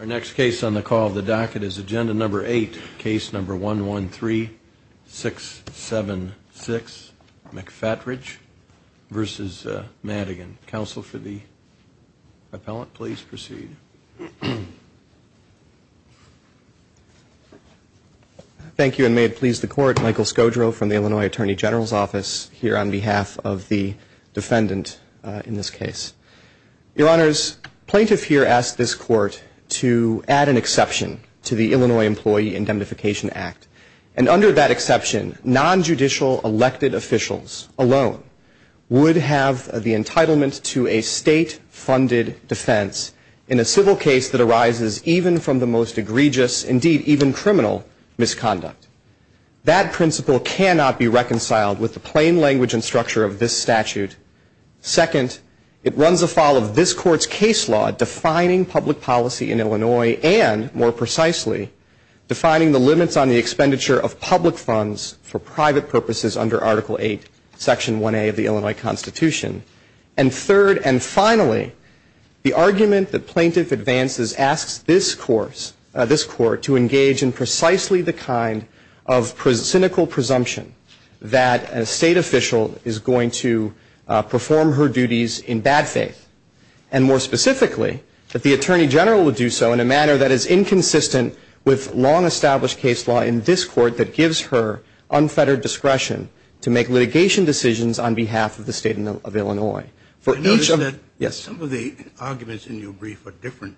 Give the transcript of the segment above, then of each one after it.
Our next case on the call of the docket is agenda number 8, case number 113676, McFatridge v. Madigan. Counsel for the appellant, please proceed. Thank you and may it please the court, Michael Skodro from the Illinois Attorney General's on behalf of the defendant in this case. Your honors, plaintiff here asked this court to add an exception to the Illinois Employee Indemnification Act. And under that exception, non-judicial elected officials alone would have the entitlement to a state-funded defense in a civil case that arises even from the most egregious, indeed even criminal, misconduct. That principle cannot be reconciled with the plain language and structure of this statute. Second, it runs afoul of this court's case law defining public policy in Illinois and, more precisely, defining the limits on the expenditure of public funds for private purposes under Article 8, Section 1A of the Illinois Constitution. And third and finally, the argument that plaintiff advances asks this court to engage in precisely the kind of cynical presumption that a state official is going to perform her duties in bad faith. And more specifically, that the attorney general would do so in a manner that is inconsistent with long-established case law in this court that gives her unfettered discretion to make litigation decisions on behalf of the state of Illinois. I notice that some of the arguments in your brief are different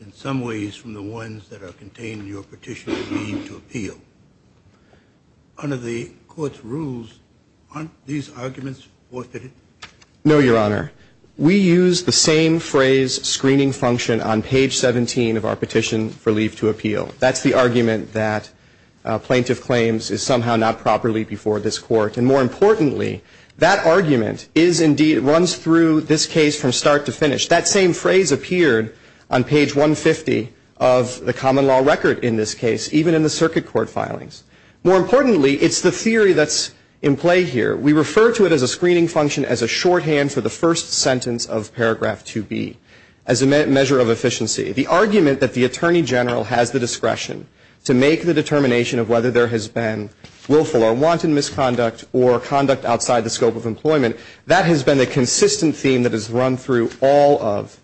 in some ways from the ones that are contained in your petition for leave to appeal. Under the court's rules, aren't these arguments forfeited? No, Your Honor. We use the same phrase screening function on page 17 of our petition for leave to appeal. That's the argument that plaintiff claims is somehow not properly before this court. And more importantly, that argument is indeed, runs through this case from start to finish. That same phrase appeared on page 150 of the common law record in this case, even in the circuit court filings. More importantly, it's the theory that's in play here. We refer to it as a screening function as a shorthand for the first sentence of paragraph 2B, as a measure of efficiency. The argument that the attorney general has the discretion to make the determination of whether there has been willful or wanton misconduct or conduct outside the scope of employment, that has been a consistent theme that has run through all of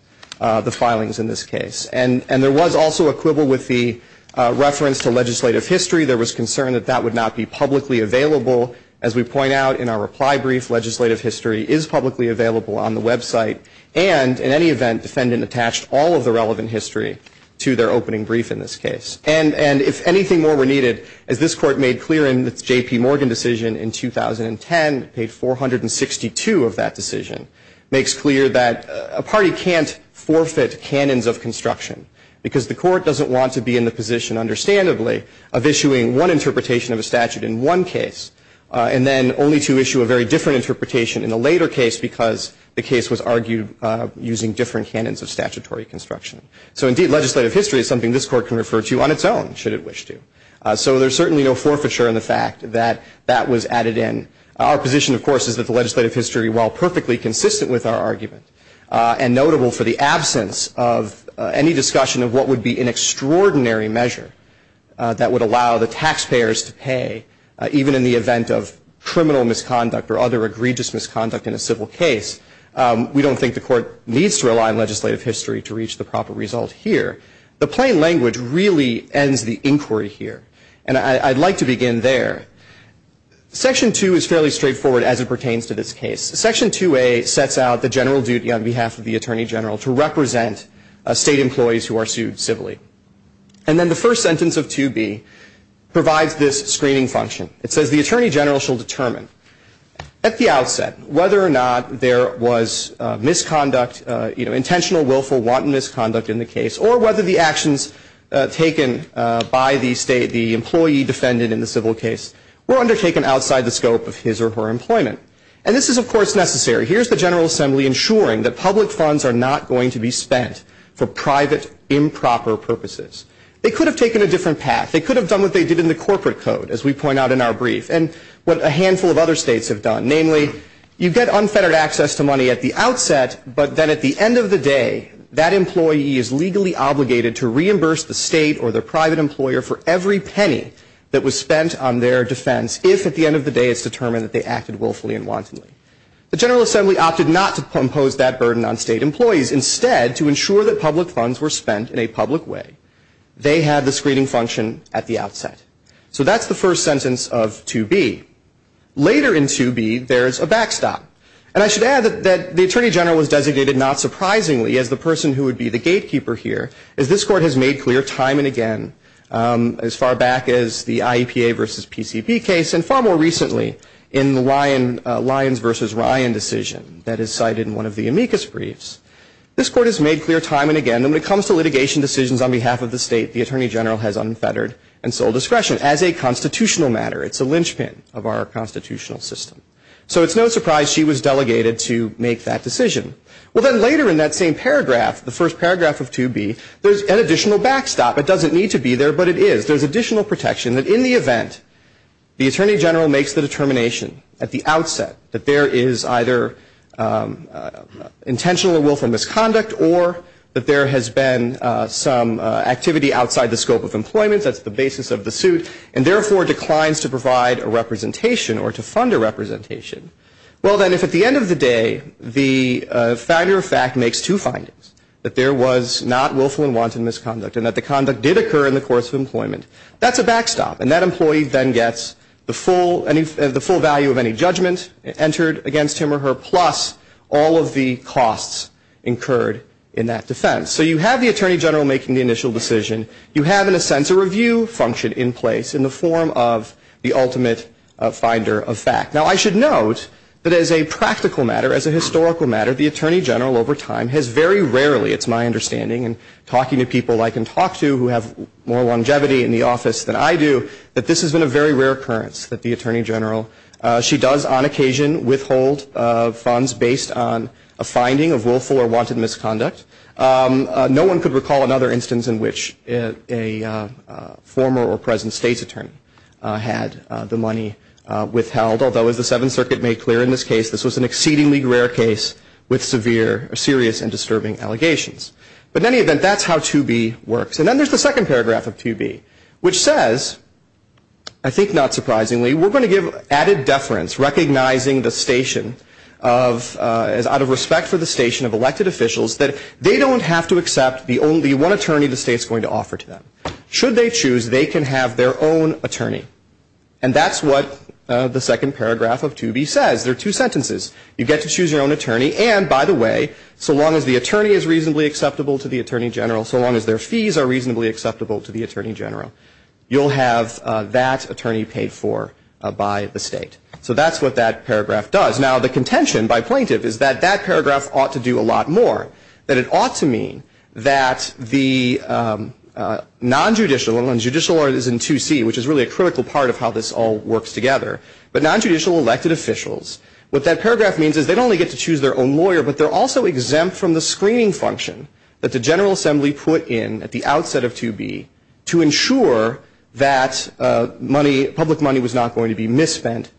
the filings in this case. And there was also a quibble with the reference to legislative history. There was concern that that would not be publicly available. As we point out in our reply brief, legislative history is publicly available on the website. And in any event, defendant attached all of the relevant history to their opening brief in this case. And if anything more were needed, as this court made clear in its J.P. Morgan decision in 2010, it paid 462 of that decision, makes clear that a party can't forfeit canons of construction. Because the court doesn't want to be in the position, understandably, of issuing one interpretation of a statute in one case. And then only to issue a very different interpretation in a later case, because the case was argued using different canons of statutory construction. So indeed, legislative history is something this court can refer to on its own, should it wish to. So there's certainly no forfeiture in the fact that that was added in. Our position, of course, is that the legislative history, while perfectly consistent with our argument, and notable for the absence of any discussion of what would be an extraordinary measure that would allow the taxpayers to pay, even in the event of criminal misconduct or other egregious misconduct in a civil case, we don't think the court needs to rely on legislative history to reach the proper result here. The plain language really ends the inquiry here. And I'd like to begin there. Section 2 is fairly straightforward as it pertains to this case. Section 2A sets out the general duty on behalf of the attorney general to represent state employees who are sued civilly. And then the first sentence of 2B provides this screening function. It says the attorney general shall determine at the outset whether or not there was misconduct, intentional, willful, wanton misconduct in the case, or whether the actions taken by the state, the employee defended in the civil case, were undertaken outside the scope of his or her employment. And this is, of course, necessary. Here's the General Assembly ensuring that public funds are not going to be spent for private, improper purposes. They could have taken a different path. They could have done what they did in the corporate code, as we point out in our brief, and what a handful of other states have done, namely, you get unfettered access to money at the outset, but then at the end of the day, that employee is legally obligated to reimburse the state or the private employer for every penny that was spent on their defense, if at the end of the day it's determined that they acted willfully and wantonly. The General Assembly opted not to impose that burden on state employees. Instead, to ensure that public funds were spent in a public way, they had the screening function at the outset. So that's the first sentence of 2B. Later in 2B, there's a backstop. And I should add that the Attorney General was designated, not surprisingly, as the person who would be the gatekeeper here, as this Court has made clear time and again, as far back as the IEPA versus PCP case, and far more recently in the Lyons versus Ryan decision that is cited in one of the amicus briefs, this Court has made clear time and again that when it comes to litigation decisions on behalf of the state, the Attorney General has unfettered and sold discretion as a constitutional matter. It's a linchpin of our constitutional system. So it's no surprise she was delegated to make that decision. Well, then later in that same paragraph, the first paragraph of 2B, there's an additional backstop. It doesn't need to be there, but it is. There's additional protection that in the event the Attorney General makes the determination at the outset that there is either intentional or willful misconduct or that there has been some activity outside the scope of employment, that's the basis of the suit, and therefore declines to provide a representation or to fund a representation. Well, then if at the end of the day, the factor of fact makes two findings, that there was not willful and wanton misconduct and that the conduct did occur in the course of employment, that's a backstop. And that employee then gets the full value of any judgment entered against him or her, plus all of the costs incurred in that defense. So you have the Attorney General making the initial decision. You have, in a sense, a review function in place in the form of the ultimate finder of fact. Now, I should note that as a practical matter, as a historical matter, the Attorney General over time has very rarely, it's my understanding, and talking to people I can talk to who have more longevity in the office than I do, that this has been a very rare occurrence that the Attorney General, she does on occasion, withhold funds based on a finding of willful or wanton misconduct. No one could recall another instance in which a former or present state's attorney had the money withheld. Although, as the Seventh Circuit made clear in this case, this was an exceedingly rare case with severe, serious and disturbing allegations. But in any event, that's how 2B works. And then there's the second paragraph of 2B, which says, I think not surprisingly, we're going to give added deference, recognizing the station of, out of respect for the station of elected officials, that they don't have to accept the only one attorney the state's going to offer to them. Should they choose, they can have their own attorney. And that's what the second paragraph of 2B says. There are two sentences. You get to choose your own attorney, and by the way, so long as the attorney is reasonably acceptable to the Attorney General, so long as their fees are reasonably acceptable to the Attorney General, you'll have that attorney paid for by the state. So that's what that paragraph does. Now, the contention by plaintiff is that that paragraph ought to do a lot more, that it ought to mean that the non-judicial, and when judicial is in 2C, which is really a critical part of how this all works together, but non-judicial elected officials, what that paragraph means is they only get to choose their own lawyer, but they're also exempt from the screening function that the General Assembly put in at the outset of 2B to ensure that money, public money was not going to be misspent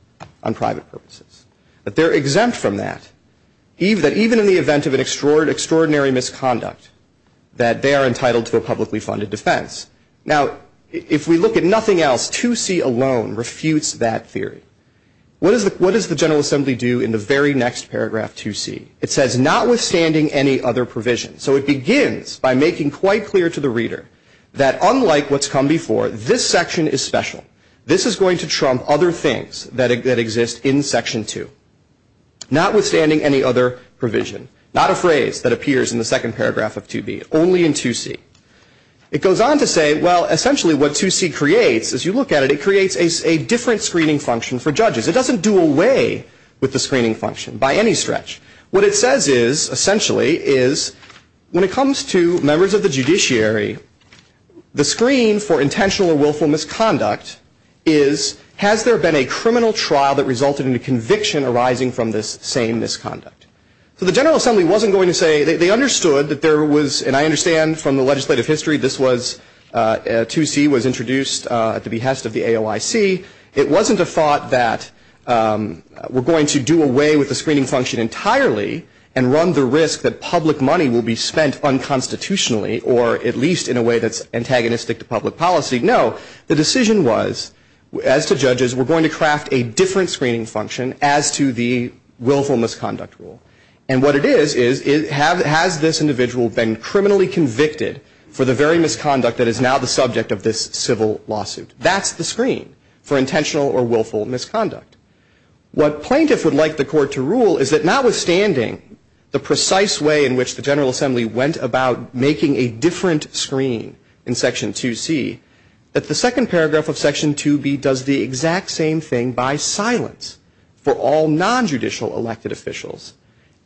on private purposes. But they're exempt from that, even in the event of an extraordinary misconduct, that they are entitled to a publicly funded defense. Now, if we look at nothing else, 2C alone refutes that theory. What does the General Assembly do in the very next paragraph, 2C? It says, notwithstanding any other provision. So it begins by making quite clear to the reader that unlike what's come before, this section is special. This is going to trump other things that exist in Section 2, notwithstanding any other provision, not a phrase that appears in the second paragraph of 2B, only in 2C. It goes on to say, well, essentially what 2C creates, as you look at it, it creates a different screening function for judges. It doesn't do away with the screening function by any stretch. What it says is, essentially, is when it comes to members of the judiciary, the screen for intentional or willful misconduct is, has there been a criminal trial that resulted in a conviction arising from this same misconduct? So the General Assembly wasn't going to say, they understood that there was, and I understand from the legislative history, this was, 2C was introduced at the behest of the AOIC, it wasn't a thought that we're going to do away with the screening function entirely and run the risk that public money will be spent unconstitutionally, or at least in a way that's antagonistic to public policy. No, the decision was, as to judges, we're going to craft a different screening function as to the willful misconduct rule. And what it is, is has this individual been criminally convicted for the very misconduct that is now the subject of this civil lawsuit? That's the screen for intentional or willful misconduct. What plaintiffs would like the court to rule is that notwithstanding the precise way in which the General Assembly went about making a different screen in Section 2C, that the second paragraph of Section 2B does the exact same thing by silence for all nonjudicial elected officials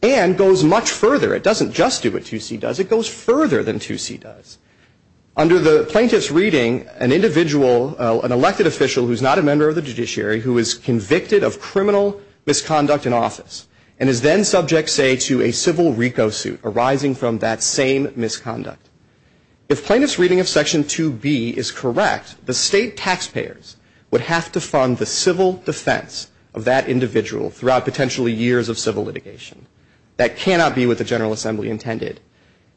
and goes much further, it doesn't just do what 2C does, it goes further than 2C does. Under the plaintiff's reading, an individual, an elected official who's not a member of the judiciary, who is convicted of criminal misconduct in office, and is then subject, say, to a civil RICO suit arising from that same misconduct. If plaintiff's reading of Section 2B is correct, the state taxpayers would have to fund the civil defense of that individual throughout potentially years of civil litigation. That cannot be what the General Assembly intended.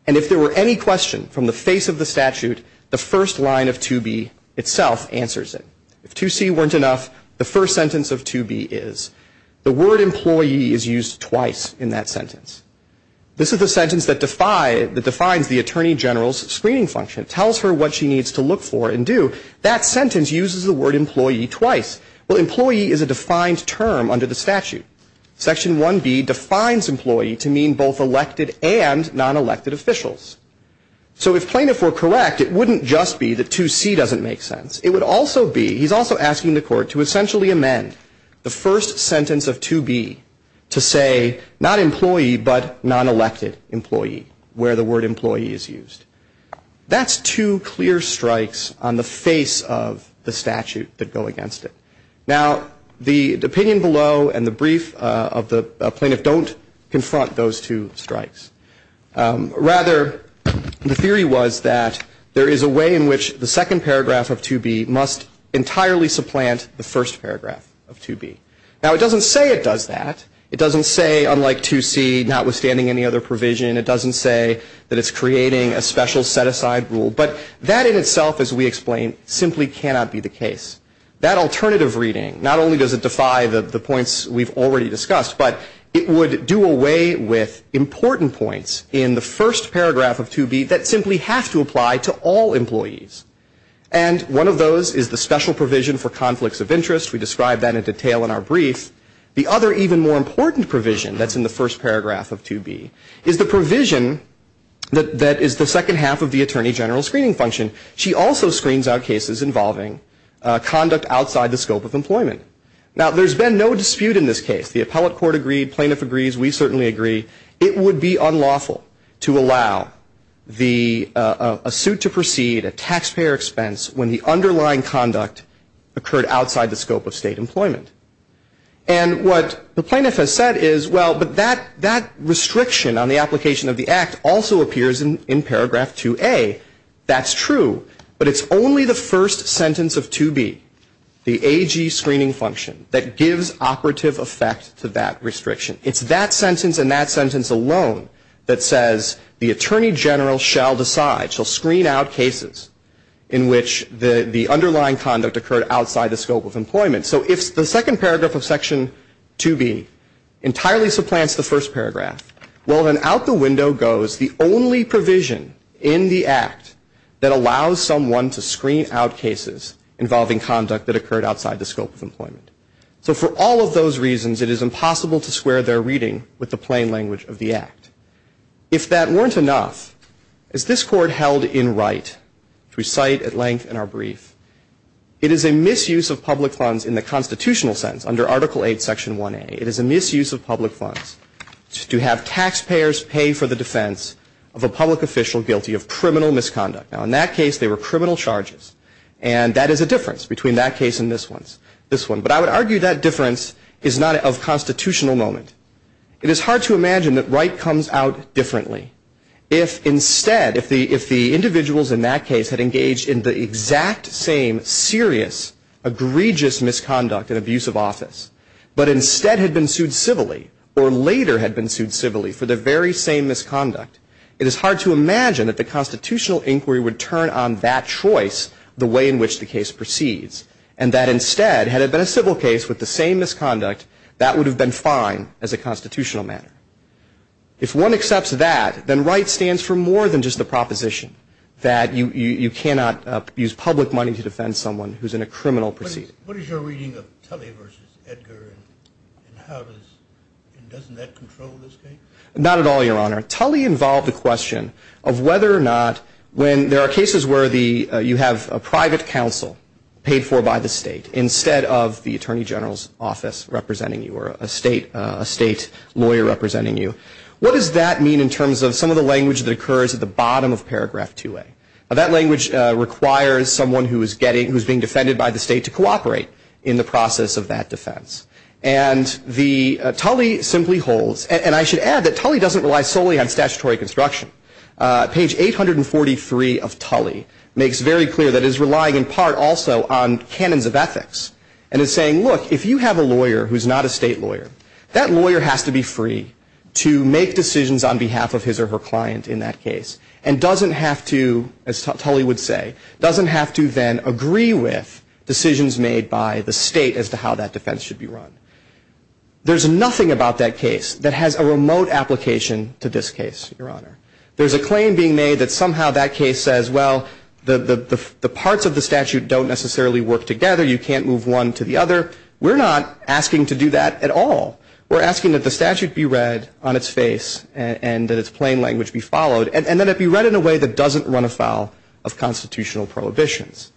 And if there were any question from the face of the statute, the first line of 2B itself answers it. If 2C weren't enough, the first sentence of 2B is. The word employee is used twice in that sentence. This is the sentence that defines the Attorney General's screening function. It tells her what she needs to look for and do. That sentence uses the word employee twice. Well, employee is a defined term under the statute. Section 1B defines employee to mean both elected and non-elected officials. So if plaintiff were correct, it wouldn't just be that 2C doesn't make sense. It would also be, he's also asking the court to essentially amend the first sentence of 2B to say not employee, but non-elected employee, where the word employee is used. That's two clear strikes on the face of the statute that go against it. Now, the opinion below and the brief of the plaintiff don't confront those two strikes. Rather, the theory was that there is a way in which the second paragraph of 2B must entirely supplant the first paragraph of 2B. Now, it doesn't say it does that. It doesn't say, unlike 2C, notwithstanding any other provision, it doesn't say that it's creating a special set-aside rule. But that in itself, as we explained, simply cannot be the case. That alternative reading, not only does it defy the points we've already discussed, but it would do away with important points in the first paragraph of 2B that simply have to apply to all employees. And one of those is the special provision for conflicts of interest. We described that in detail in our brief. The other even more important provision that's in the first paragraph of 2B is the provision that is the second half of the attorney general screening function. She also screens out cases involving conduct outside the scope of employment. Now, there's been no dispute in this case. The appellate court agreed. Plaintiff agrees. We certainly agree. It would be unlawful to allow a suit to proceed, a taxpayer expense, when the underlying conduct occurred outside the scope of state employment. And what the plaintiff has said is, well, but that restriction on the application of the act also appears in paragraph 2A. That's true. But it's only the first sentence of 2B, the AG screening function, that gives operative effect to that restriction. It's that sentence and that sentence alone that says the attorney general shall decide, shall screen out cases in which the underlying conduct occurred outside the scope of employment. So if the second paragraph of section 2B entirely supplants the first paragraph, well, then out the window goes the only provision in the act that allows someone to screen out cases involving conduct that occurred outside the scope of employment. So for all of those reasons, it is impossible to square their reading with the plain language of the act. If that weren't enough, as this court held in right, which we cite at length in our brief, it is a misuse of public funds in the constitutional sense under Article 8, Section 1A, it is a misuse of public funds to have taxpayers pay for the defense of a public official guilty of criminal misconduct. Now, in that case, they were criminal charges. And that is a difference between that case and this one. This one. But I would argue that difference is not of constitutional moment. It is hard to imagine that right comes out differently. If instead, if the individuals in that case had engaged in the exact same serious, egregious misconduct and abuse of office, but instead had been sued civilly or later had been sued civilly for the very same misconduct, it is hard to imagine that the constitutional inquiry would turn on that choice the way in which the case proceeds. And that instead, had it been a civil case with the same misconduct, that would have been fine as a constitutional matter. If one accepts that, then right stands for more than just the proposition that you cannot use public money to defend someone who is in a criminal proceeding. What is your reading of Tully versus Edgar and how does, and doesn't that control this case? Not at all, Your Honor. Tully involved the question of whether or not when there are cases where you have a private counsel paid for by the state instead of the Attorney General's office representing you or a state lawyer representing you. What does that mean in terms of some of the language that occurs at the bottom of paragraph 2A? That language requires someone who is getting, who is being defended by the state to cooperate in the process of that defense. And the, Tully simply holds, and I should add that Tully doesn't rely solely on statutory construction. Page 843 of Tully makes very clear that it is relying in part also on canons of ethics. And is saying, look, if you have a lawyer who is not a state lawyer, that lawyer has to be free to make decisions on behalf of his or her client in that case and doesn't have to, as Tully would say, doesn't have to then agree with decisions made by the state as to how that defense should be run. There's nothing about that case that has a remote application to this case, Your Honor. There's a claim being made that somehow that case says, well, the parts of the statute don't necessarily work together. You can't move one to the other. We're not asking to do that at all. We're asking that the statute be read on its face and that its plain language be followed and that it be read in a way that doesn't run afoul of constitutional prohibitions.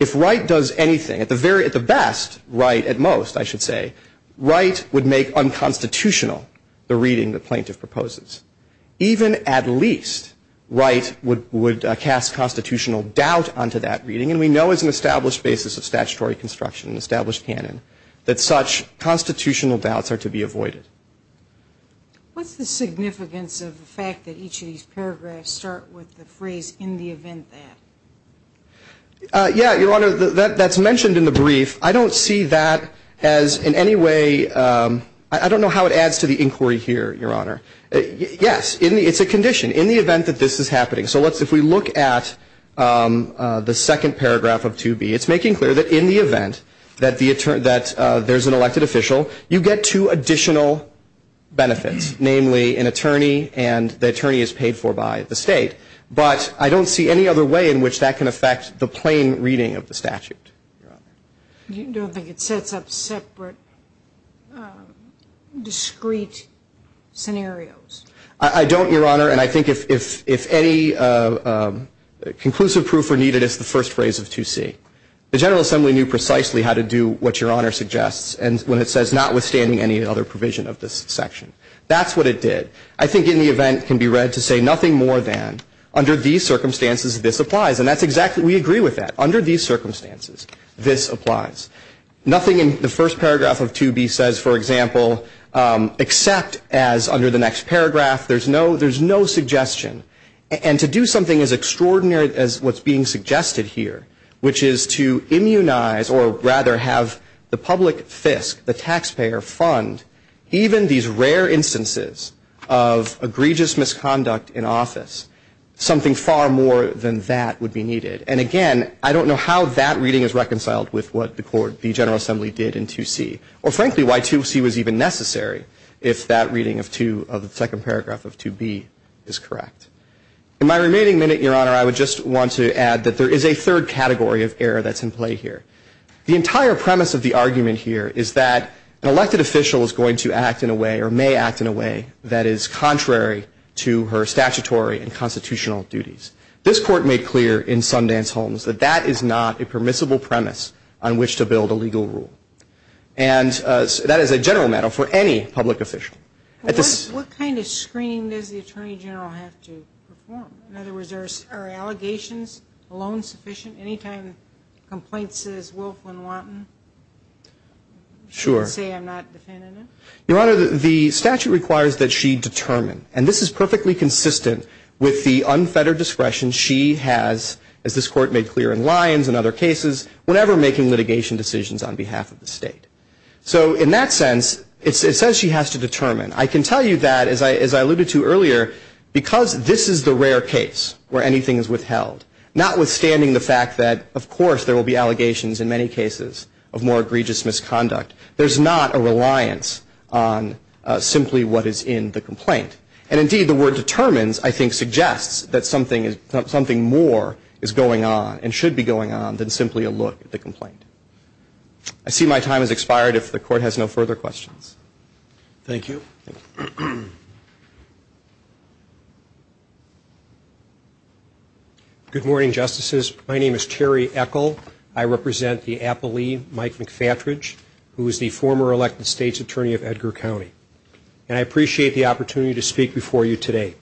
If Wright does anything, at the best, Wright at most, I should say, Wright would make unconstitutional the reading the plaintiff proposes. Even at least, Wright would cast constitutional doubt onto that reading. And we know as an established basis of statutory construction, an established canon, that such constitutional doubts are to be avoided. What's the significance of the fact that each of these paragraphs start with the phrase, in the event that? Yeah, Your Honor, that's mentioned in the brief. I don't see that as in any way, I don't know how it adds to the inquiry here, Your Honor. Yes, it's a condition. In the event that this is happening. So if we look at the second paragraph of 2B, it's making clear that in the event that there's an elected official, you get two additional benefits. Namely, an attorney and the attorney is paid for by the state. But I don't see any other way in which that can affect the plain reading of the statute. You don't think it sets up separate, discrete scenarios? I don't, Your Honor. And I think if any conclusive proof were needed, it's the first phrase of 2C. The General Assembly knew precisely how to do what Your Honor suggests, and when it says notwithstanding any other provision of this section. That's what it did. I think in the event can be read to say nothing more than, under these circumstances, this applies. And that's exactly, we agree with that. Under these circumstances, this applies. Nothing in the first paragraph of 2B says, for example, except as, under the next paragraph, there's no suggestion. And to do something as extraordinary as what's being suggested here, which is to immunize, or rather have the public fisc, the taxpayer fund, even these rare instances of egregious misconduct in office, something far more than that would be needed. And again, I don't know how that reading is reconciled with what the court, the General Assembly did in 2C. Or frankly, why 2C was even necessary if that reading of 2, of the second paragraph of 2B is correct. In my remaining minute, Your Honor, I would just want to add that there is a third category of error that's in play here. The entire premise of the argument here is that an elected official is going to act in a way, or may act in a way, that is contrary to her statutory and constitutional duties. This court made clear in Sundance Holmes that that is not a permissible premise on which to build a legal rule. And that is a general matter for any public official. At this- What kind of screening does the Attorney General have to perform? In other words, are allegations alone sufficient? Anytime a complaint says, Wolf, Wynne-Wanton? Sure. Say I'm not defending it? Your Honor, the statute requires that she determine. And this is perfectly consistent with the unfettered discretion she has, as this court made clear in Lyons and other cases, whenever making litigation decisions on behalf of the state. So in that sense, it says she has to determine. I can tell you that, as I alluded to earlier, because this is the rare case where anything is withheld, notwithstanding the fact that, of course, there will be allegations in many cases of more egregious misconduct, there's not a reliance on simply what is in the complaint. And indeed, the word determines, I think, suggests that something more is going on and should be going on than simply a look at the complaint. I see my time has expired if the court has no further questions. Thank you. Good morning, Justices. My name is Terry Echol. I represent the appellee, Mike McFatridge, who is the former elected state's attorney of Edgar County. And I appreciate the opportunity to speak before you today.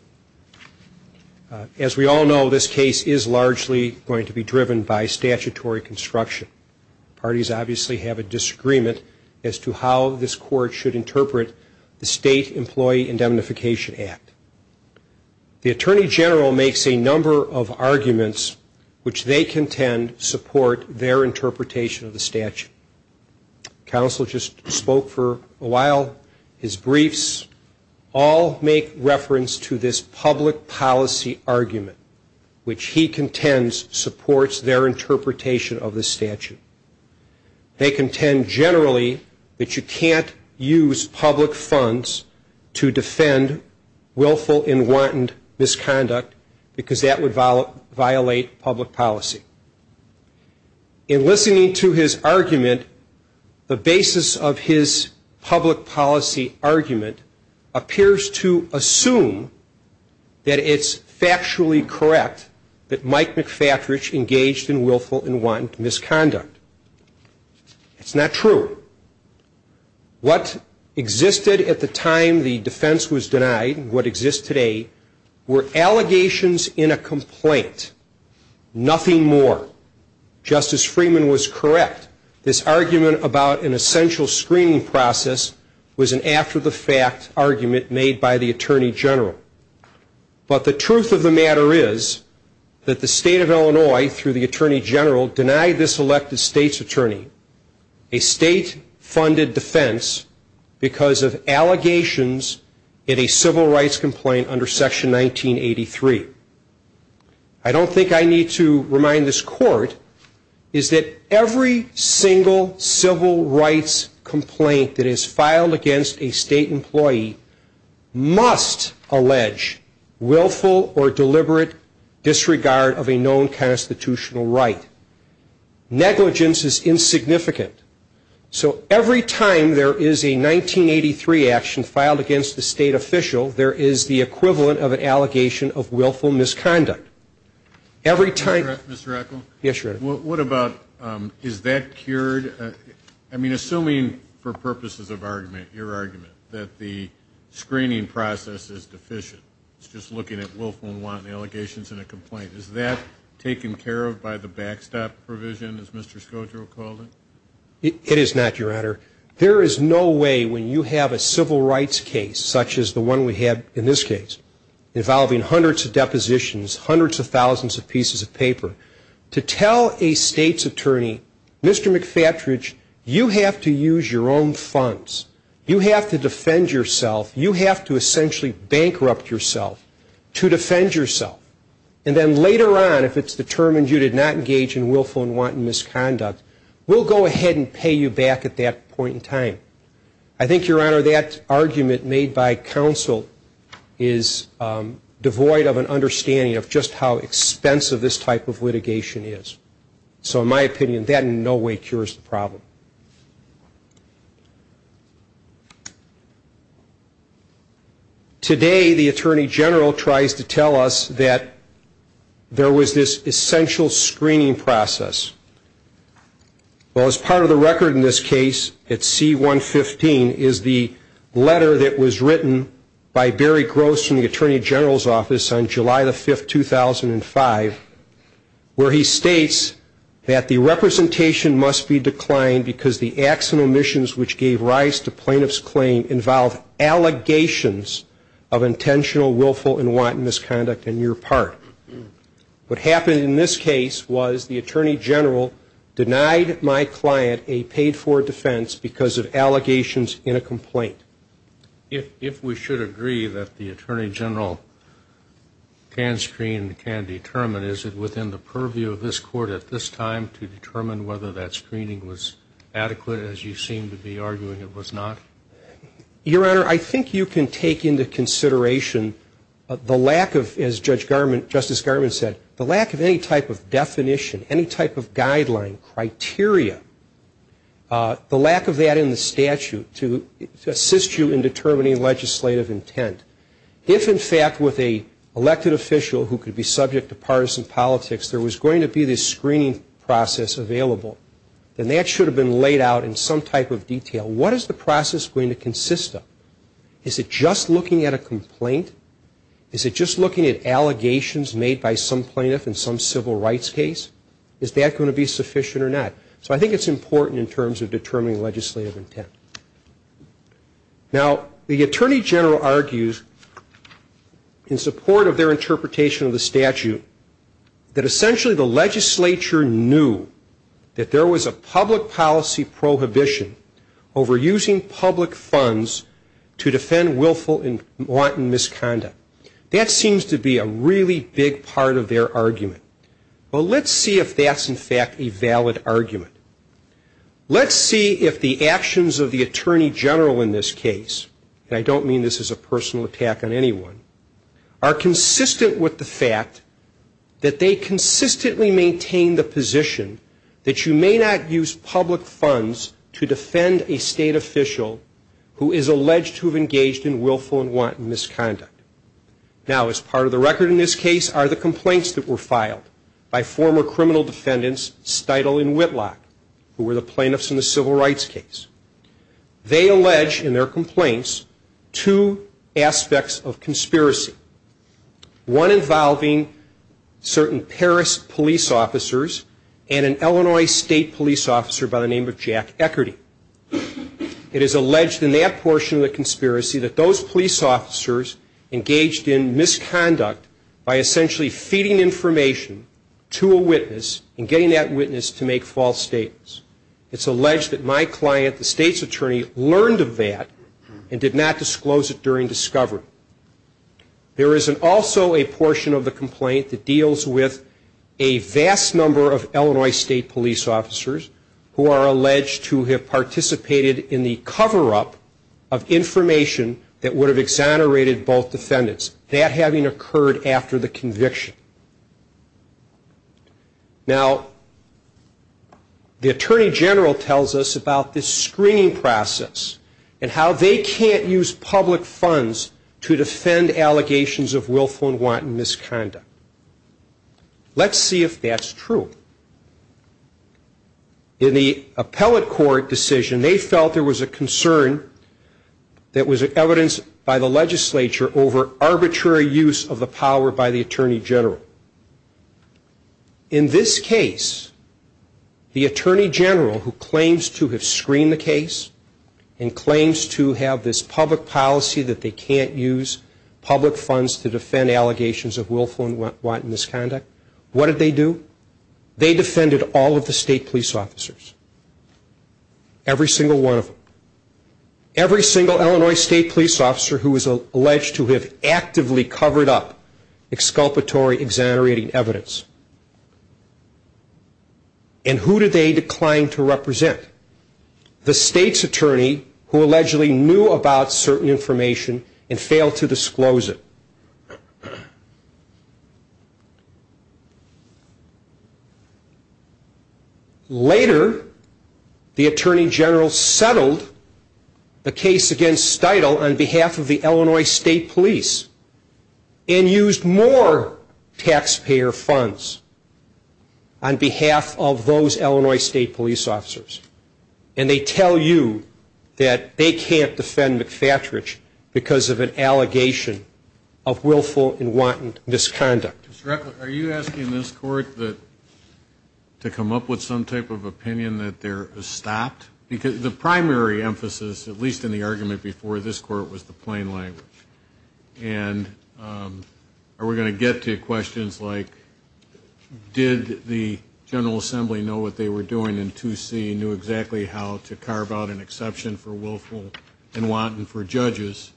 As we all know, this case is largely going to be driven by statutory construction. Parties obviously have a disagreement as to how this court should interpret the State Employee Indemnification Act. The Attorney General makes a number of arguments which they contend support their interpretation of the statute. Counsel just spoke for a while. His briefs all make reference to this public policy argument, which he contends supports their interpretation of the statute. They contend generally that you can't use public funds to defend willful and wanton misconduct because that would violate public policy. In listening to his argument, the basis of his public policy argument appears to assume that it's factually correct that Mike McFatridge engaged in willful and wanton misconduct. It's not true. What existed at the time the defense was denied, what exists today, were allegations in a complaint, nothing more. Justice Freeman was correct. This argument about an essential screening process was an after-the-fact argument made by the Attorney General. But the truth of the matter is that the state of Illinois, through the Attorney General, denied this elected state's attorney a state-funded defense because of allegations in a civil rights complaint under Section 1983. I don't think I need to remind this court, is that every single civil rights complaint that is filed against a state employee must allege willful or deliberate disregard of a known constitutional right. Negligence is insignificant. So every time there is a 1983 action filed against the state official, there is a willful misconduct. Every time- Mr. Eccle? Yes, Your Honor. What about, is that cured? I mean, assuming for purposes of argument, your argument, that the screening process is deficient. It's just looking at willful and wanton allegations in a complaint. Is that taken care of by the backstop provision, as Mr. Scodro called it? It is not, Your Honor. There is no way when you have a civil rights case, such as the one we have in this case, involving hundreds of depositions, hundreds of thousands of pieces of paper, to tell a state's attorney, Mr. McFattridge, you have to use your own funds. You have to defend yourself. You have to essentially bankrupt yourself to defend yourself. And then later on, if it's determined you did not engage in willful and wanton misconduct, we'll go ahead and pay you back at that point in time. I think, Your Honor, that argument made by counsel is devoid of an understanding of just how expensive this type of litigation is. So in my opinion, that in no way cures the problem. Today, the Attorney General tries to tell us that there was this essential screening process. Well, as part of the record in this case, it's C-115, is the letter that was written by Barry Gross in the Attorney General's office on July the 5th, 2005, where he states that the representation must be declined because the acts and omissions which gave rise to plaintiff's claim involve allegations of intentional, willful, and wanton misconduct on your part. What happened in this case was the Attorney General denied my client a paid-for defense because of allegations in a complaint. If we should agree that the Attorney General can screen, can determine, is it within the purview of this court at this time to determine whether that screening was adequate, as you seem to be arguing it was not? Your Honor, I think you can take into consideration the lack of, as Justice Garment said, the lack of any type of definition, any type of guideline, criteria, the lack of that in the statute to assist you in determining legislative intent. If, in fact, with a elected official who could be subject to partisan politics, there was going to be this screening process available, then that should have been laid out in some type of detail. What is the process going to consist of? Is it just looking at a complaint? Is it just looking at allegations made by some plaintiff in some civil rights case? Is that going to be sufficient or not? So I think it's important in terms of determining legislative intent. Now, the Attorney General argues in support of their interpretation of the statute that essentially the legislature knew that there was a public policy prohibition over using public funds to defend willful and wanton misconduct. That seems to be a really big part of their argument. Well, let's see if that's, in fact, a valid argument. Let's see if the actions of the Attorney General in this case, and I don't mean this as a personal attack on anyone, are consistent with the fact that they consistently maintain the position that you may not use public funds to defend a state official who is alleged to have engaged in willful and wanton misconduct. Now, as part of the record in this case are the complaints that were filed by former criminal defendants, Steitel and Whitlock, who were the plaintiffs in the civil rights case. They allege in their complaints two aspects of conspiracy. One involving certain Paris police officers and an Illinois state police officer by the name of Jack Echarty. It is alleged in that portion of the conspiracy that those police officers engaged in misconduct by essentially feeding information to a witness and getting that witness to make false statements. It's alleged that my client, the state's attorney, learned of that and did not disclose it during discovery. There is also a portion of the complaint that deals with a vast number of Illinois state police officers who are alleged to have participated in the cover up of information that would have exonerated both defendants, that having occurred after the conviction. Now, the attorney general tells us about this screening process and how they can't use public funds to defend allegations of willful and wanton misconduct. Let's see if that's true. In the appellate court decision, they felt there was a concern that was evidenced by the legislature over arbitrary use of the power by the attorney general. In this case, the attorney general who claims to have screened the case and claims to have this public policy that they can't use public funds to defend allegations of willful and wanton misconduct, what did they do? They defended all of the state police officers. Every single one of them. Every single Illinois state police officer who is alleged to have actively covered up exculpatory, exonerating evidence. And who did they decline to represent? The state's attorney who allegedly knew about certain information and failed to disclose it. Later, the attorney general settled the case against Steudle on behalf of the Illinois state police and used more taxpayer funds on behalf of those Illinois state police officers. And they tell you that they can't defend McFatridge because of an allegation of willful and wanton misconduct. Mr. Reckler, are you asking this court to come up with some type of opinion that they're stopped? Because the primary emphasis, at least in the argument before, this court was the plain language. And are we going to get to questions like did the General Assembly know what they were doing and 2C knew exactly how to carve out an exception for willful and wanton for judges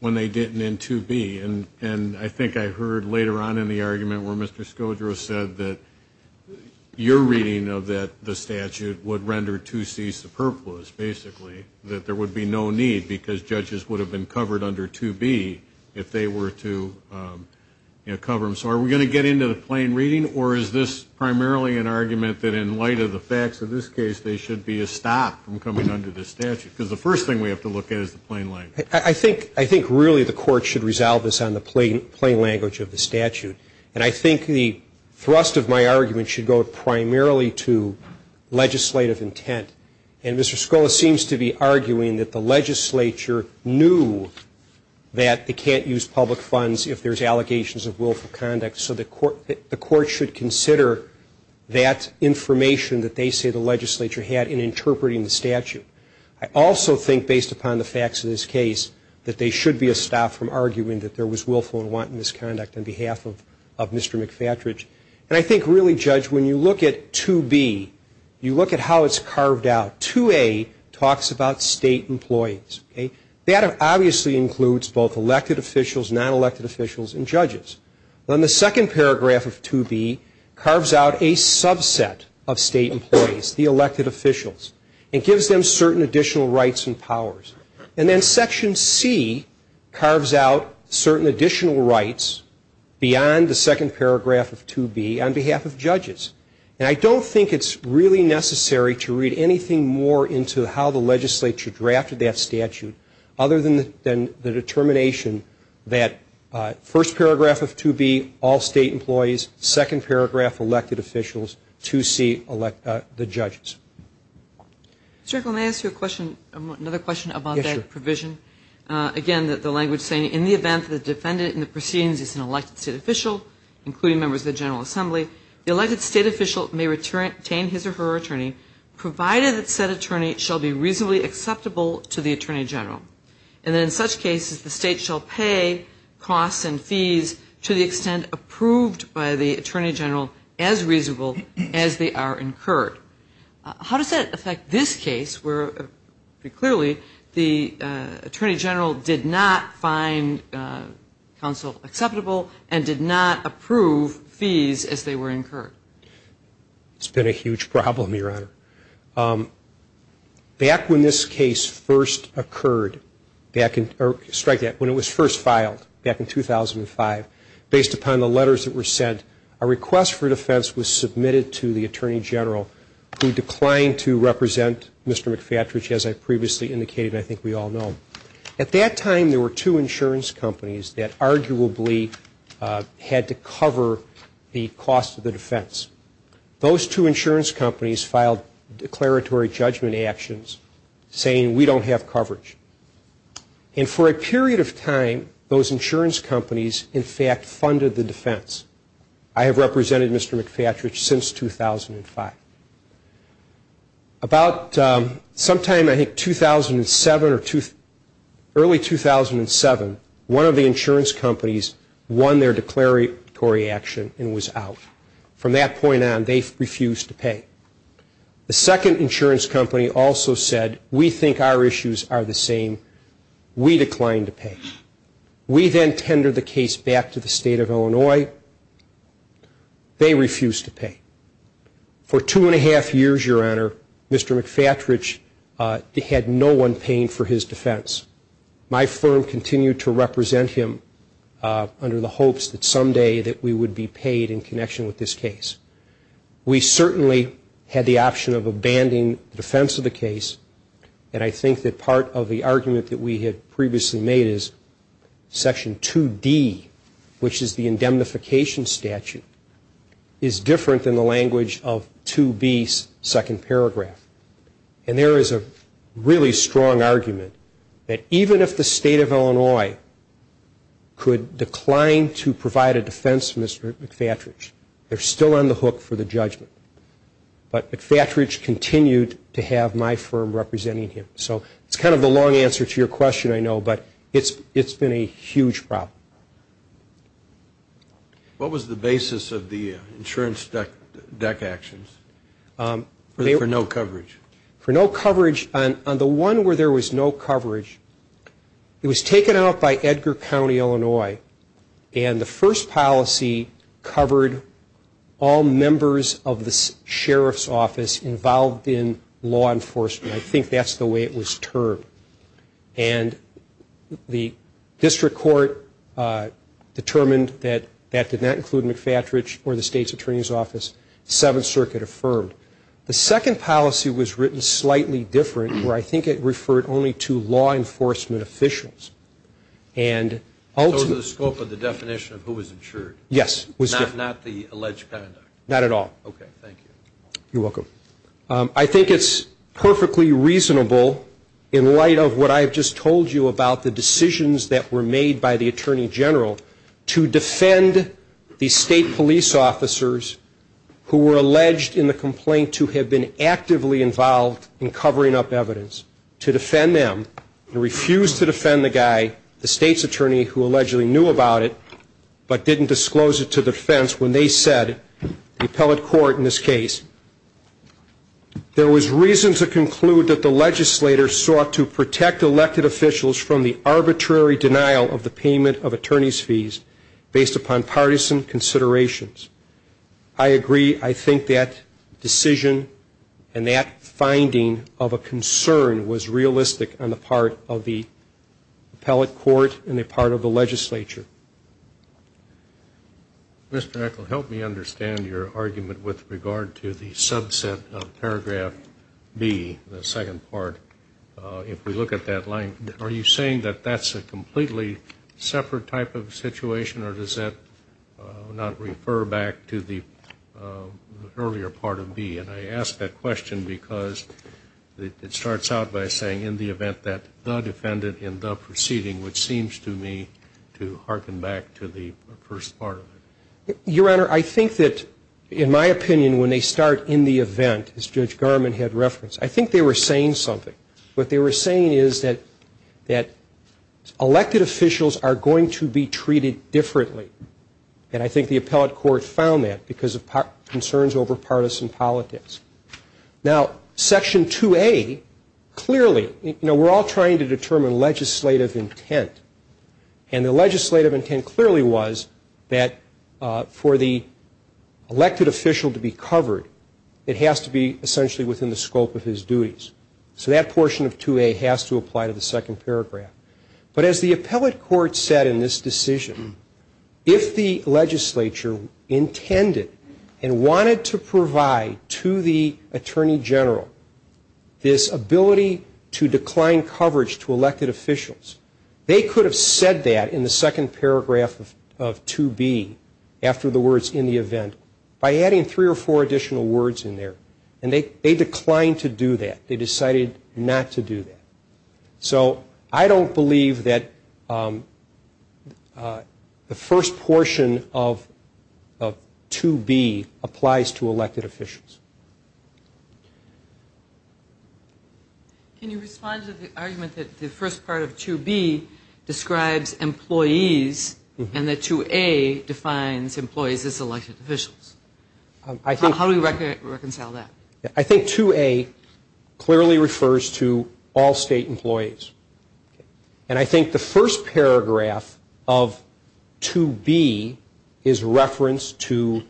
when they didn't in 2B? And I think I heard later on in the argument where Mr. Scodro said that your reading of the statute would render 2C superfluous, basically. That there would be no need because judges would have been covered under 2B if they were to cover them. So are we going to get into the plain reading or is this primarily an argument that in light of the facts of this case there should be a stop from coming under the statute? Because the first thing we have to look at is the plain language. I think really the court should resolve this on the plain language of the statute. And I think the thrust of my argument should go primarily to legislative intent. And Mr. Scola seems to be arguing that the legislature knew that they can't use public funds if there's allegations of willful conduct. So the court should consider that information that they say the legislature had in interpreting the statute. I also think based upon the facts of this case that there should be a stop from arguing that there was willful and wanton misconduct on behalf of Mr. McFatridge. And I think really, Judge, when you look at 2B, you look at how it's carved out. 2A talks about state employees, okay? That obviously includes both elected officials, non-elected officials, and judges. Then the second paragraph of 2B carves out a subset of state employees, the elected officials, and gives them certain additional rights and powers. And then Section C carves out certain additional rights beyond the second paragraph of 2B on behalf of judges. And I don't think it's really necessary to read anything more into how the legislature drafted that statute other than the determination that first paragraph of 2B, all state employees, second paragraph, elected officials, 2C, the judges. Mr. Echolm, may I ask you a question, another question about that provision? Again, the language saying, in the event that the defendant in the proceedings is an elected state official, including members of the General Assembly, the elected state official may retain his or her attorney, provided that said attorney shall be reasonably acceptable to the Attorney General. And in such cases, the state shall pay costs and fees to the extent approved by the Attorney General as reasonable as they are incurred. How does that affect this case where, clearly, the Attorney General did not find counsel acceptable and did not approve fees as they were incurred? It's been a huge problem, Your Honor. Back when this case first occurred, or strike that, when it was first filed back in 2005, based upon the letters that were sent, a request for defense was submitted to the Attorney General who declined to represent Mr. McFatridge as I previously indicated and I think we all know. At that time, there were two insurance companies that arguably had to cover the cost of the defense. Those two insurance companies filed declaratory judgment actions saying we don't have coverage. And for a period of time, those insurance companies, in fact, funded the defense. I have represented Mr. McFatridge since 2005. About sometime, I think, 2007 or early 2007, one of the insurance companies won their declaratory action and was out. From that point on, they refused to pay. The second insurance company also said we think our issues are the same. We declined to pay. We then tendered the case back to the state of Illinois. They refused to pay. For two and a half years, Your Honor, Mr. McFatridge had no one paying for his defense. My firm continued to represent him under the hopes that someday that we would be paid in connection with this case. We certainly had the option of abandoning the defense of the case and I think that part of the argument that we had previously made is Section 2D, which is the indemnification statute, is different than the language of 2B's second paragraph. And there is a really strong argument that even if the state of Illinois could decline to provide a defense for Mr. McFatridge, they're still on the hook for the judgment. But McFatridge continued to have my firm representing him. So it's kind of a long answer to your question, I know, but it's been a huge problem. What was the basis of the insurance deck actions for no coverage? For no coverage, on the one where there was no coverage, it was taken out by Edgar County, Illinois, and the first policy covered all members of the sheriff's office involved in law enforcement, I think that's the way it was termed. And the district court determined that that did not include McFatridge or the state's attorney's office, Seventh Circuit affirmed. The second policy was written slightly different, where I think it referred only to law enforcement officials. And ultimately. So it was the scope of the definition of who was insured? Yes. Not the alleged conduct? Not at all. Okay, thank you. You're welcome. I think it's perfectly reasonable in light of what I have just told you about the decisions that were made by the attorney general to defend the state police officers who were alleged in the complaint to have been actively involved in covering up evidence, to defend them, and refused to defend the guy, the state's attorney who allegedly knew about it, but didn't disclose it to defense when they said, the appellate court in this case, there was reason to conclude that the legislator sought to protect elected officials from the arbitrary denial of the payment of attorney's fees based upon partisan considerations. I agree. I think that decision and that finding of a concern was realistic on the part of the appellate court and a part of the legislature. Mr. Eccle, help me understand your argument with regard to the subset of paragraph B, the second part, if we look at that line. Are you saying that that's a completely separate type of situation, or does that not refer back to the earlier part of B? And I ask that question because it starts out by saying, in the event that the defendant in the proceeding, which seems to me to harken back to the first part of it. Your Honor, I think that, in my opinion, when they start in the event, as Judge Garmon had referenced, I think they were saying something. What they were saying is that elected officials are going to be treated differently. And I think the appellate court found that because of concerns over partisan politics. Now, section 2A, clearly, you know, we're all trying to determine legislative intent. And the legislative intent clearly was that for the elected official to be covered, it has to be essentially within the scope of his duties. So that portion of 2A has to apply to the second paragraph. But as the appellate court said in this decision, if the legislature intended and wanted to provide to the Attorney General this ability to decline coverage to elected officials, they could have said that in the second paragraph of 2B, after the words in the event, by adding three or four additional words in there. And they declined to do that. They decided not to do that. So I don't believe that the first portion of 2B applies to elected officials. Can you respond to the argument that the first part of 2B describes employees and that 2A defines employees as elected officials? How do we reconcile that? I think 2A clearly refers to all state employees. And I think the first paragraph of 2B is referenced to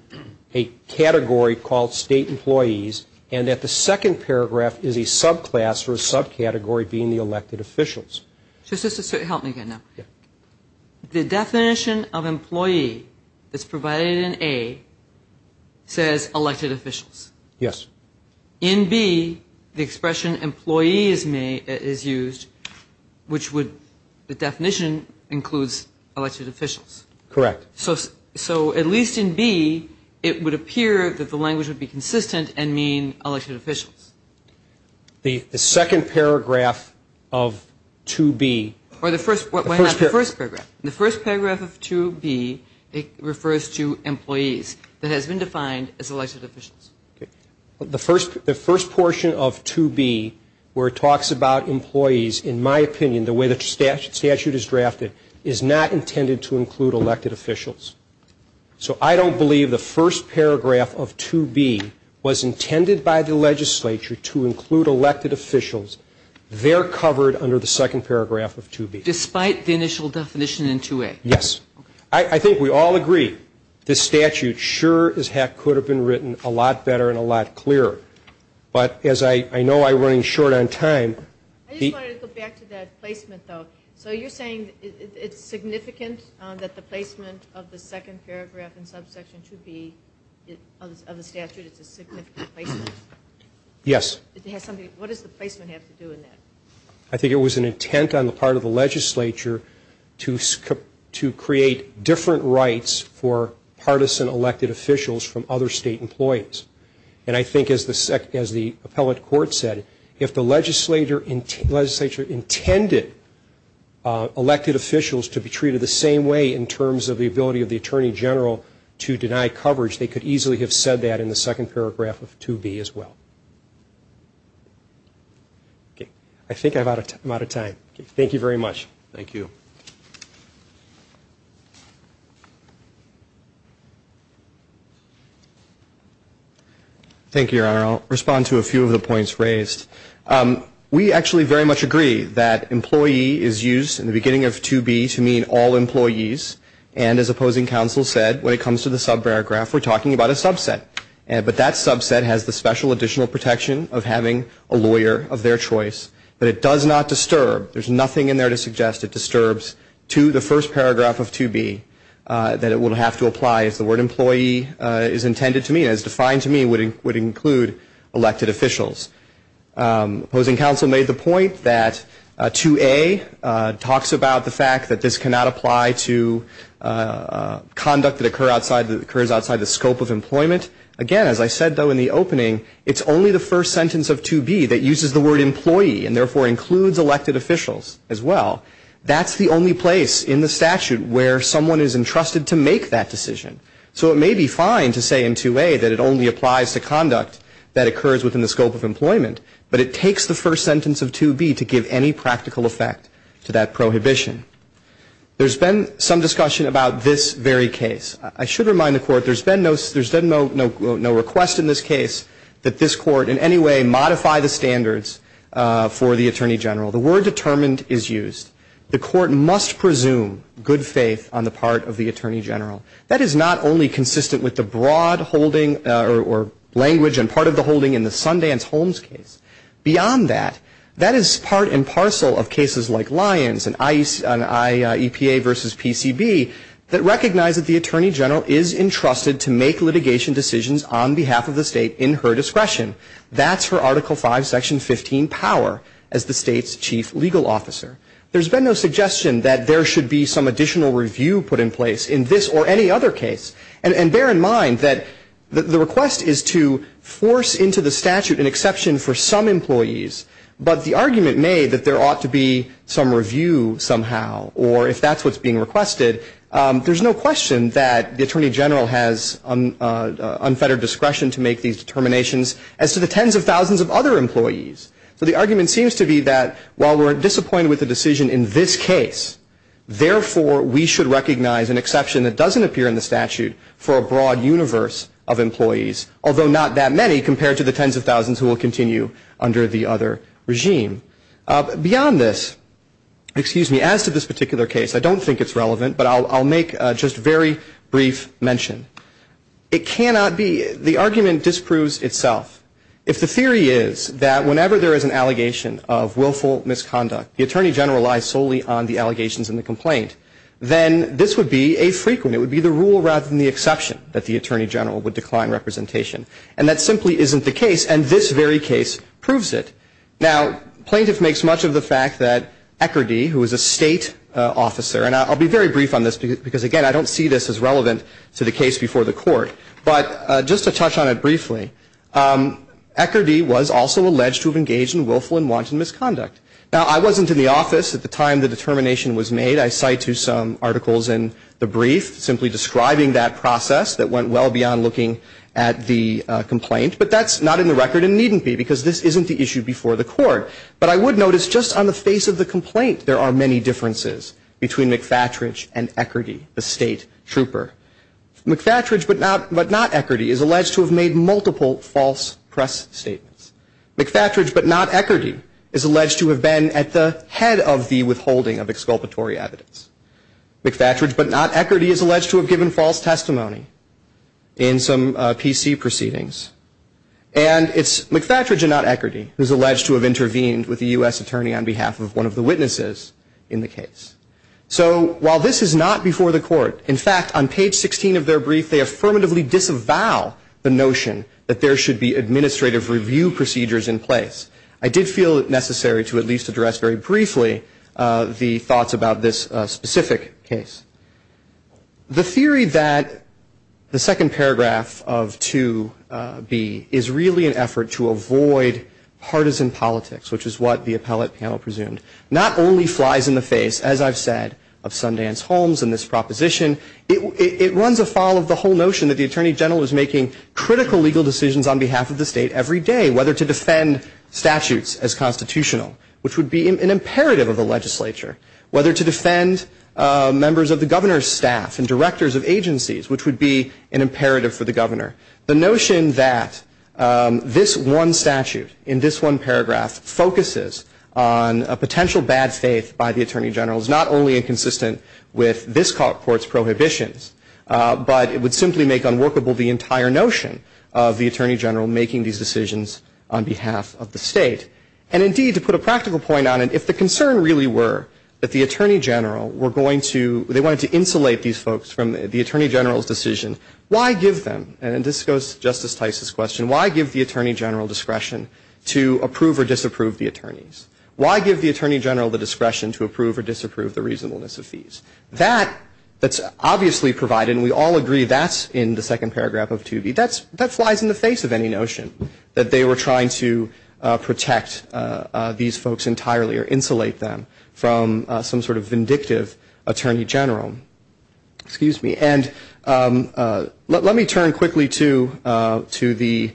a category called state employees and that the second paragraph is a subclass or a subcategory being the elected officials. Just to help me get now. The definition of employee that's provided in A says elected officials. Yes. In B, the expression employee is used, which would, the definition includes elected officials. Correct. So at least in B, it would appear that the language would be consistent and mean elected officials. The second paragraph of 2B. Or the first paragraph. The first paragraph of 2B, it refers to employees. That has been defined as elected officials. The first portion of 2B where it talks about employees, in my opinion, the way the statute is drafted, is not intended to include elected officials. So I don't believe the first paragraph of 2B was intended by the legislature to include elected officials. They're covered under the second paragraph of 2B. Despite the initial definition in 2A? Yes. I think we all agree. This statute sure could have been written a lot better and a lot clearer. But as I know I'm running short on time. I just wanted to go back to that placement though. So you're saying it's significant that the placement of the second paragraph in subsection 2B of the statute, it's a significant placement? Yes. It has something, what does the placement have to do with that? I think it was an intent on the part of the legislature to create different rights for partisan elected officials from other state employees. And I think as the appellate court said, if the legislature intended elected officials to be treated the same way in terms of the ability of the Attorney General to deny coverage, they could easily have said that in the second paragraph of 2B as well. Okay. I think I'm out of time. Thank you very much. Thank you. Thank you, Your Honor. I'll respond to a few of the points raised. We actually very much agree that employee is used in the beginning of 2B to mean all employees. And as opposing counsel said, when it comes to the subparagraph, we're talking about a subset. But that subset has the special additional protection of having a lawyer of their choice. But it does not disturb. There's nothing in there to suggest it disturbs to the first paragraph of 2B that it will have to apply as the word employee is intended to mean, as defined to mean would include elected officials. Opposing counsel made the point that 2A talks about the fact that this cannot apply to conduct that occurs outside the scope of employment. Again, as I said though in the opening, it's only the first sentence of 2B that uses the word employee and therefore includes elected officials as well. That's the only place in the statute where someone is entrusted to make that decision. So it may be fine to say in 2A that it only applies to conduct that occurs within the scope of employment, but it takes the first sentence of 2B to give any practical effect to that prohibition. There's been some discussion about this very case. I should remind the Court, there's been no request in this case that this Court in any way modify the standards for the Attorney General. The word determined is used. The Court must presume good faith on the part of the Attorney General. That is not only consistent with the broad holding or language and part of the holding in the Sundance Holmes case. Beyond that, that is part and parcel of cases like Lyons and IEPA versus PCB that recognize that the Attorney General is entrusted to make litigation decisions on behalf of the state in her discretion. That's her Article 5, Section 15 power as the state's chief legal officer. There's been no suggestion that there should be some additional review put in place in this or any other case. And bear in mind that the request is to force into the statute an exception for some employees, but the argument made that there ought to be some review somehow or if that's what's being requested, there's no question that the Attorney General has unfettered discretion to make these determinations as to the tens of thousands of other employees. So the argument seems to be that while we're disappointed with the decision in this case, therefore we should recognize an exception that doesn't appear in the statute for a broad universe of employees, although not that many compared to the tens of thousands who will continue under the other regime. Beyond this, excuse me, as to this particular case, I don't think it's relevant, but I'll make just a very brief mention. It cannot be, the argument disproves itself. If the theory is that whenever there is an allegation of willful misconduct, the Attorney General lies solely on the allegations in the complaint, then this would be a frequent, it would be the rule rather than the exception that the Attorney General would decline representation. And that simply isn't the case, and this very case proves it. Now, plaintiff makes much of the fact that Eckerdee, who is a state officer, and I'll be very brief on this because, again, I don't see this as relevant to the case before the court. But just to touch on it briefly, Eckerdee was also alleged to have engaged in willful and wanton misconduct. Now, I wasn't in the office at the time the determination was made. I cite to some articles in the brief simply describing that process that went well beyond looking at the complaint, but that's not in the record and needn't be because this isn't the issue before the court. But I would notice just on the face of the complaint, there are many differences between McFatridge and Eckerdee, the state trooper. McFatridge, but not Eckerdee, is alleged to have made multiple false press statements. McFatridge, but not Eckerdee, is alleged to have been at the head of the withholding of exculpatory evidence. McFatridge, but not Eckerdee, is alleged to have given false testimony in some PC proceedings. And it's McFatridge and not Eckerdee who's alleged to have intervened with the U.S. attorney on behalf of one of the witnesses in the case. So, while this is not before the court, in fact, on page 16 of their brief, they affirmatively disavow the notion that there should be administrative review procedures in place. I did feel it necessary to at least address very briefly the thoughts about this specific case. I think it's important for the court to avoid partisan politics, which is what the appellate panel presumed. Not only flies in the face, as I've said, of Sundance Holmes and this proposition, it runs afoul of the whole notion that the attorney general is making critical legal decisions on behalf of the state every day, whether to defend statutes as constitutional, which would be an imperative of the legislature. Whether to defend members of the governor's staff and directors of agencies, which would be an imperative for the governor. The notion that this one statute in this one paragraph focuses on a potential bad faith by the attorney general is not only inconsistent with this court's prohibitions, but it would simply make unworkable the entire notion of the attorney general making these decisions on behalf of the state. And, indeed, to put a practical point on it, if the concern really were that the attorney general were going to, they wanted to insulate these folks from the attorney general's decision, why give them, and this goes to Justice Tice's question, why give the attorney general discretion to approve or disapprove the attorneys? Why give the attorney general the discretion to approve or disapprove the reasonableness of fees? That, that's obviously provided, and we all agree that's in the second paragraph of 2B, that flies in the face of any notion that they were trying to protect these folks entirely or insulate them from some sort of vindictive attorney general. Excuse me, and let, let me turn quickly to, to the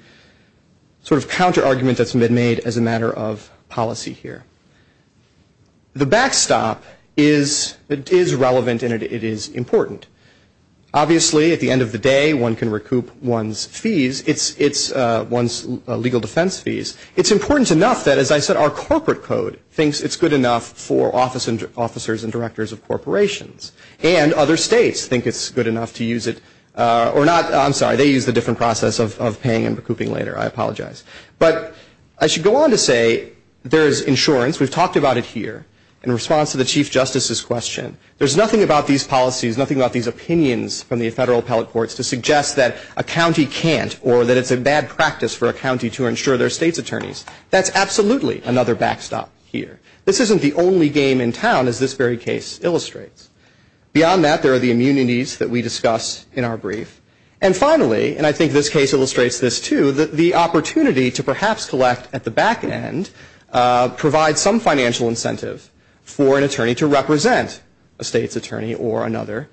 sort of counter argument that's been made as a matter of policy here. The backstop is, it is relevant, and it, it is important. Obviously, at the end of the day, one can recoup one's fees. It's, it's one's legal defense fees. It's important enough that, as I said, our corporate code thinks it's good enough for office, officers and directors of corporations. And other states think it's good enough to use it, or not, I'm sorry, they use the different process of, of paying and recouping later, I apologize. But I should go on to say there's insurance, we've talked about it here, in response to the Chief Justice's question. There's nothing about these policies, nothing about these opinions from the federal appellate courts to suggest that a county can't or that it's a bad practice for a county to insure their state's attorneys. That's absolutely another backstop here. This isn't the only game in town, as this very case illustrates. Beyond that, there are the immunities that we discuss in our brief. And finally, and I think this case illustrates this too, that the opportunity to perhaps collect at the back end, provide some financial incentive for an attorney to represent a state's attorney or another,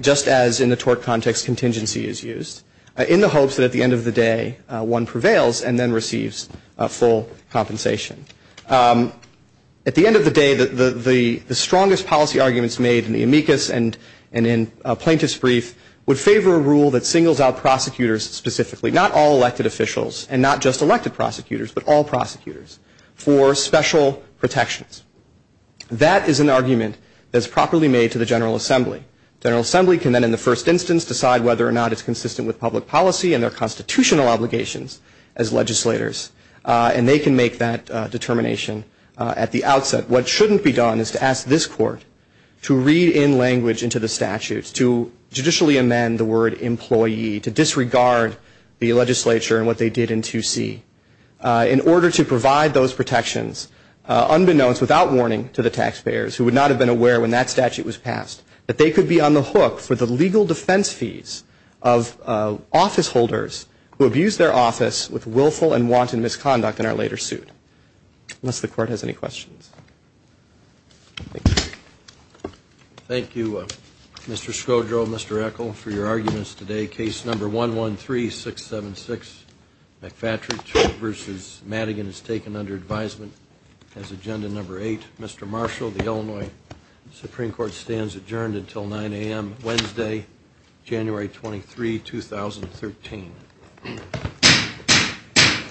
just as in the tort context, contingency is used, in the hopes that at the end of the day, one prevails and then receives full compensation. At the end of the day, the strongest policy arguments made in the amicus and in plaintiff's brief would favor a rule that singles out prosecutors specifically, not all elected officials, and not just elected prosecutors, but all prosecutors, for special protections. That is an argument that's properly made to the General Assembly. General Assembly can then, in the first instance, decide whether or not it's consistent with public policy and their constitutional obligations as legislators. And they can make that determination at the outset. What shouldn't be done is to ask this court to read in language into the statutes, to judicially amend the word employee, to disregard the legislature and what they did in 2C. In order to provide those protections, unbeknownst, without warning to the taxpayers, who would not have been aware when that statute was passed, that they could be on the hook for the legal defense fees of office holders who abused their office with willful and wanton misconduct in our later suit. Unless the court has any questions. Thank you. Thank you, Mr. Scodro, Mr. Eccle, for your arguments today. Case number 113676, McFatridge v. Madigan is taken under advisement as agenda number 8. Mr. Marshall, the Illinois Supreme Court stands adjourned until 9 a.m. Wednesday, January 23, 2013.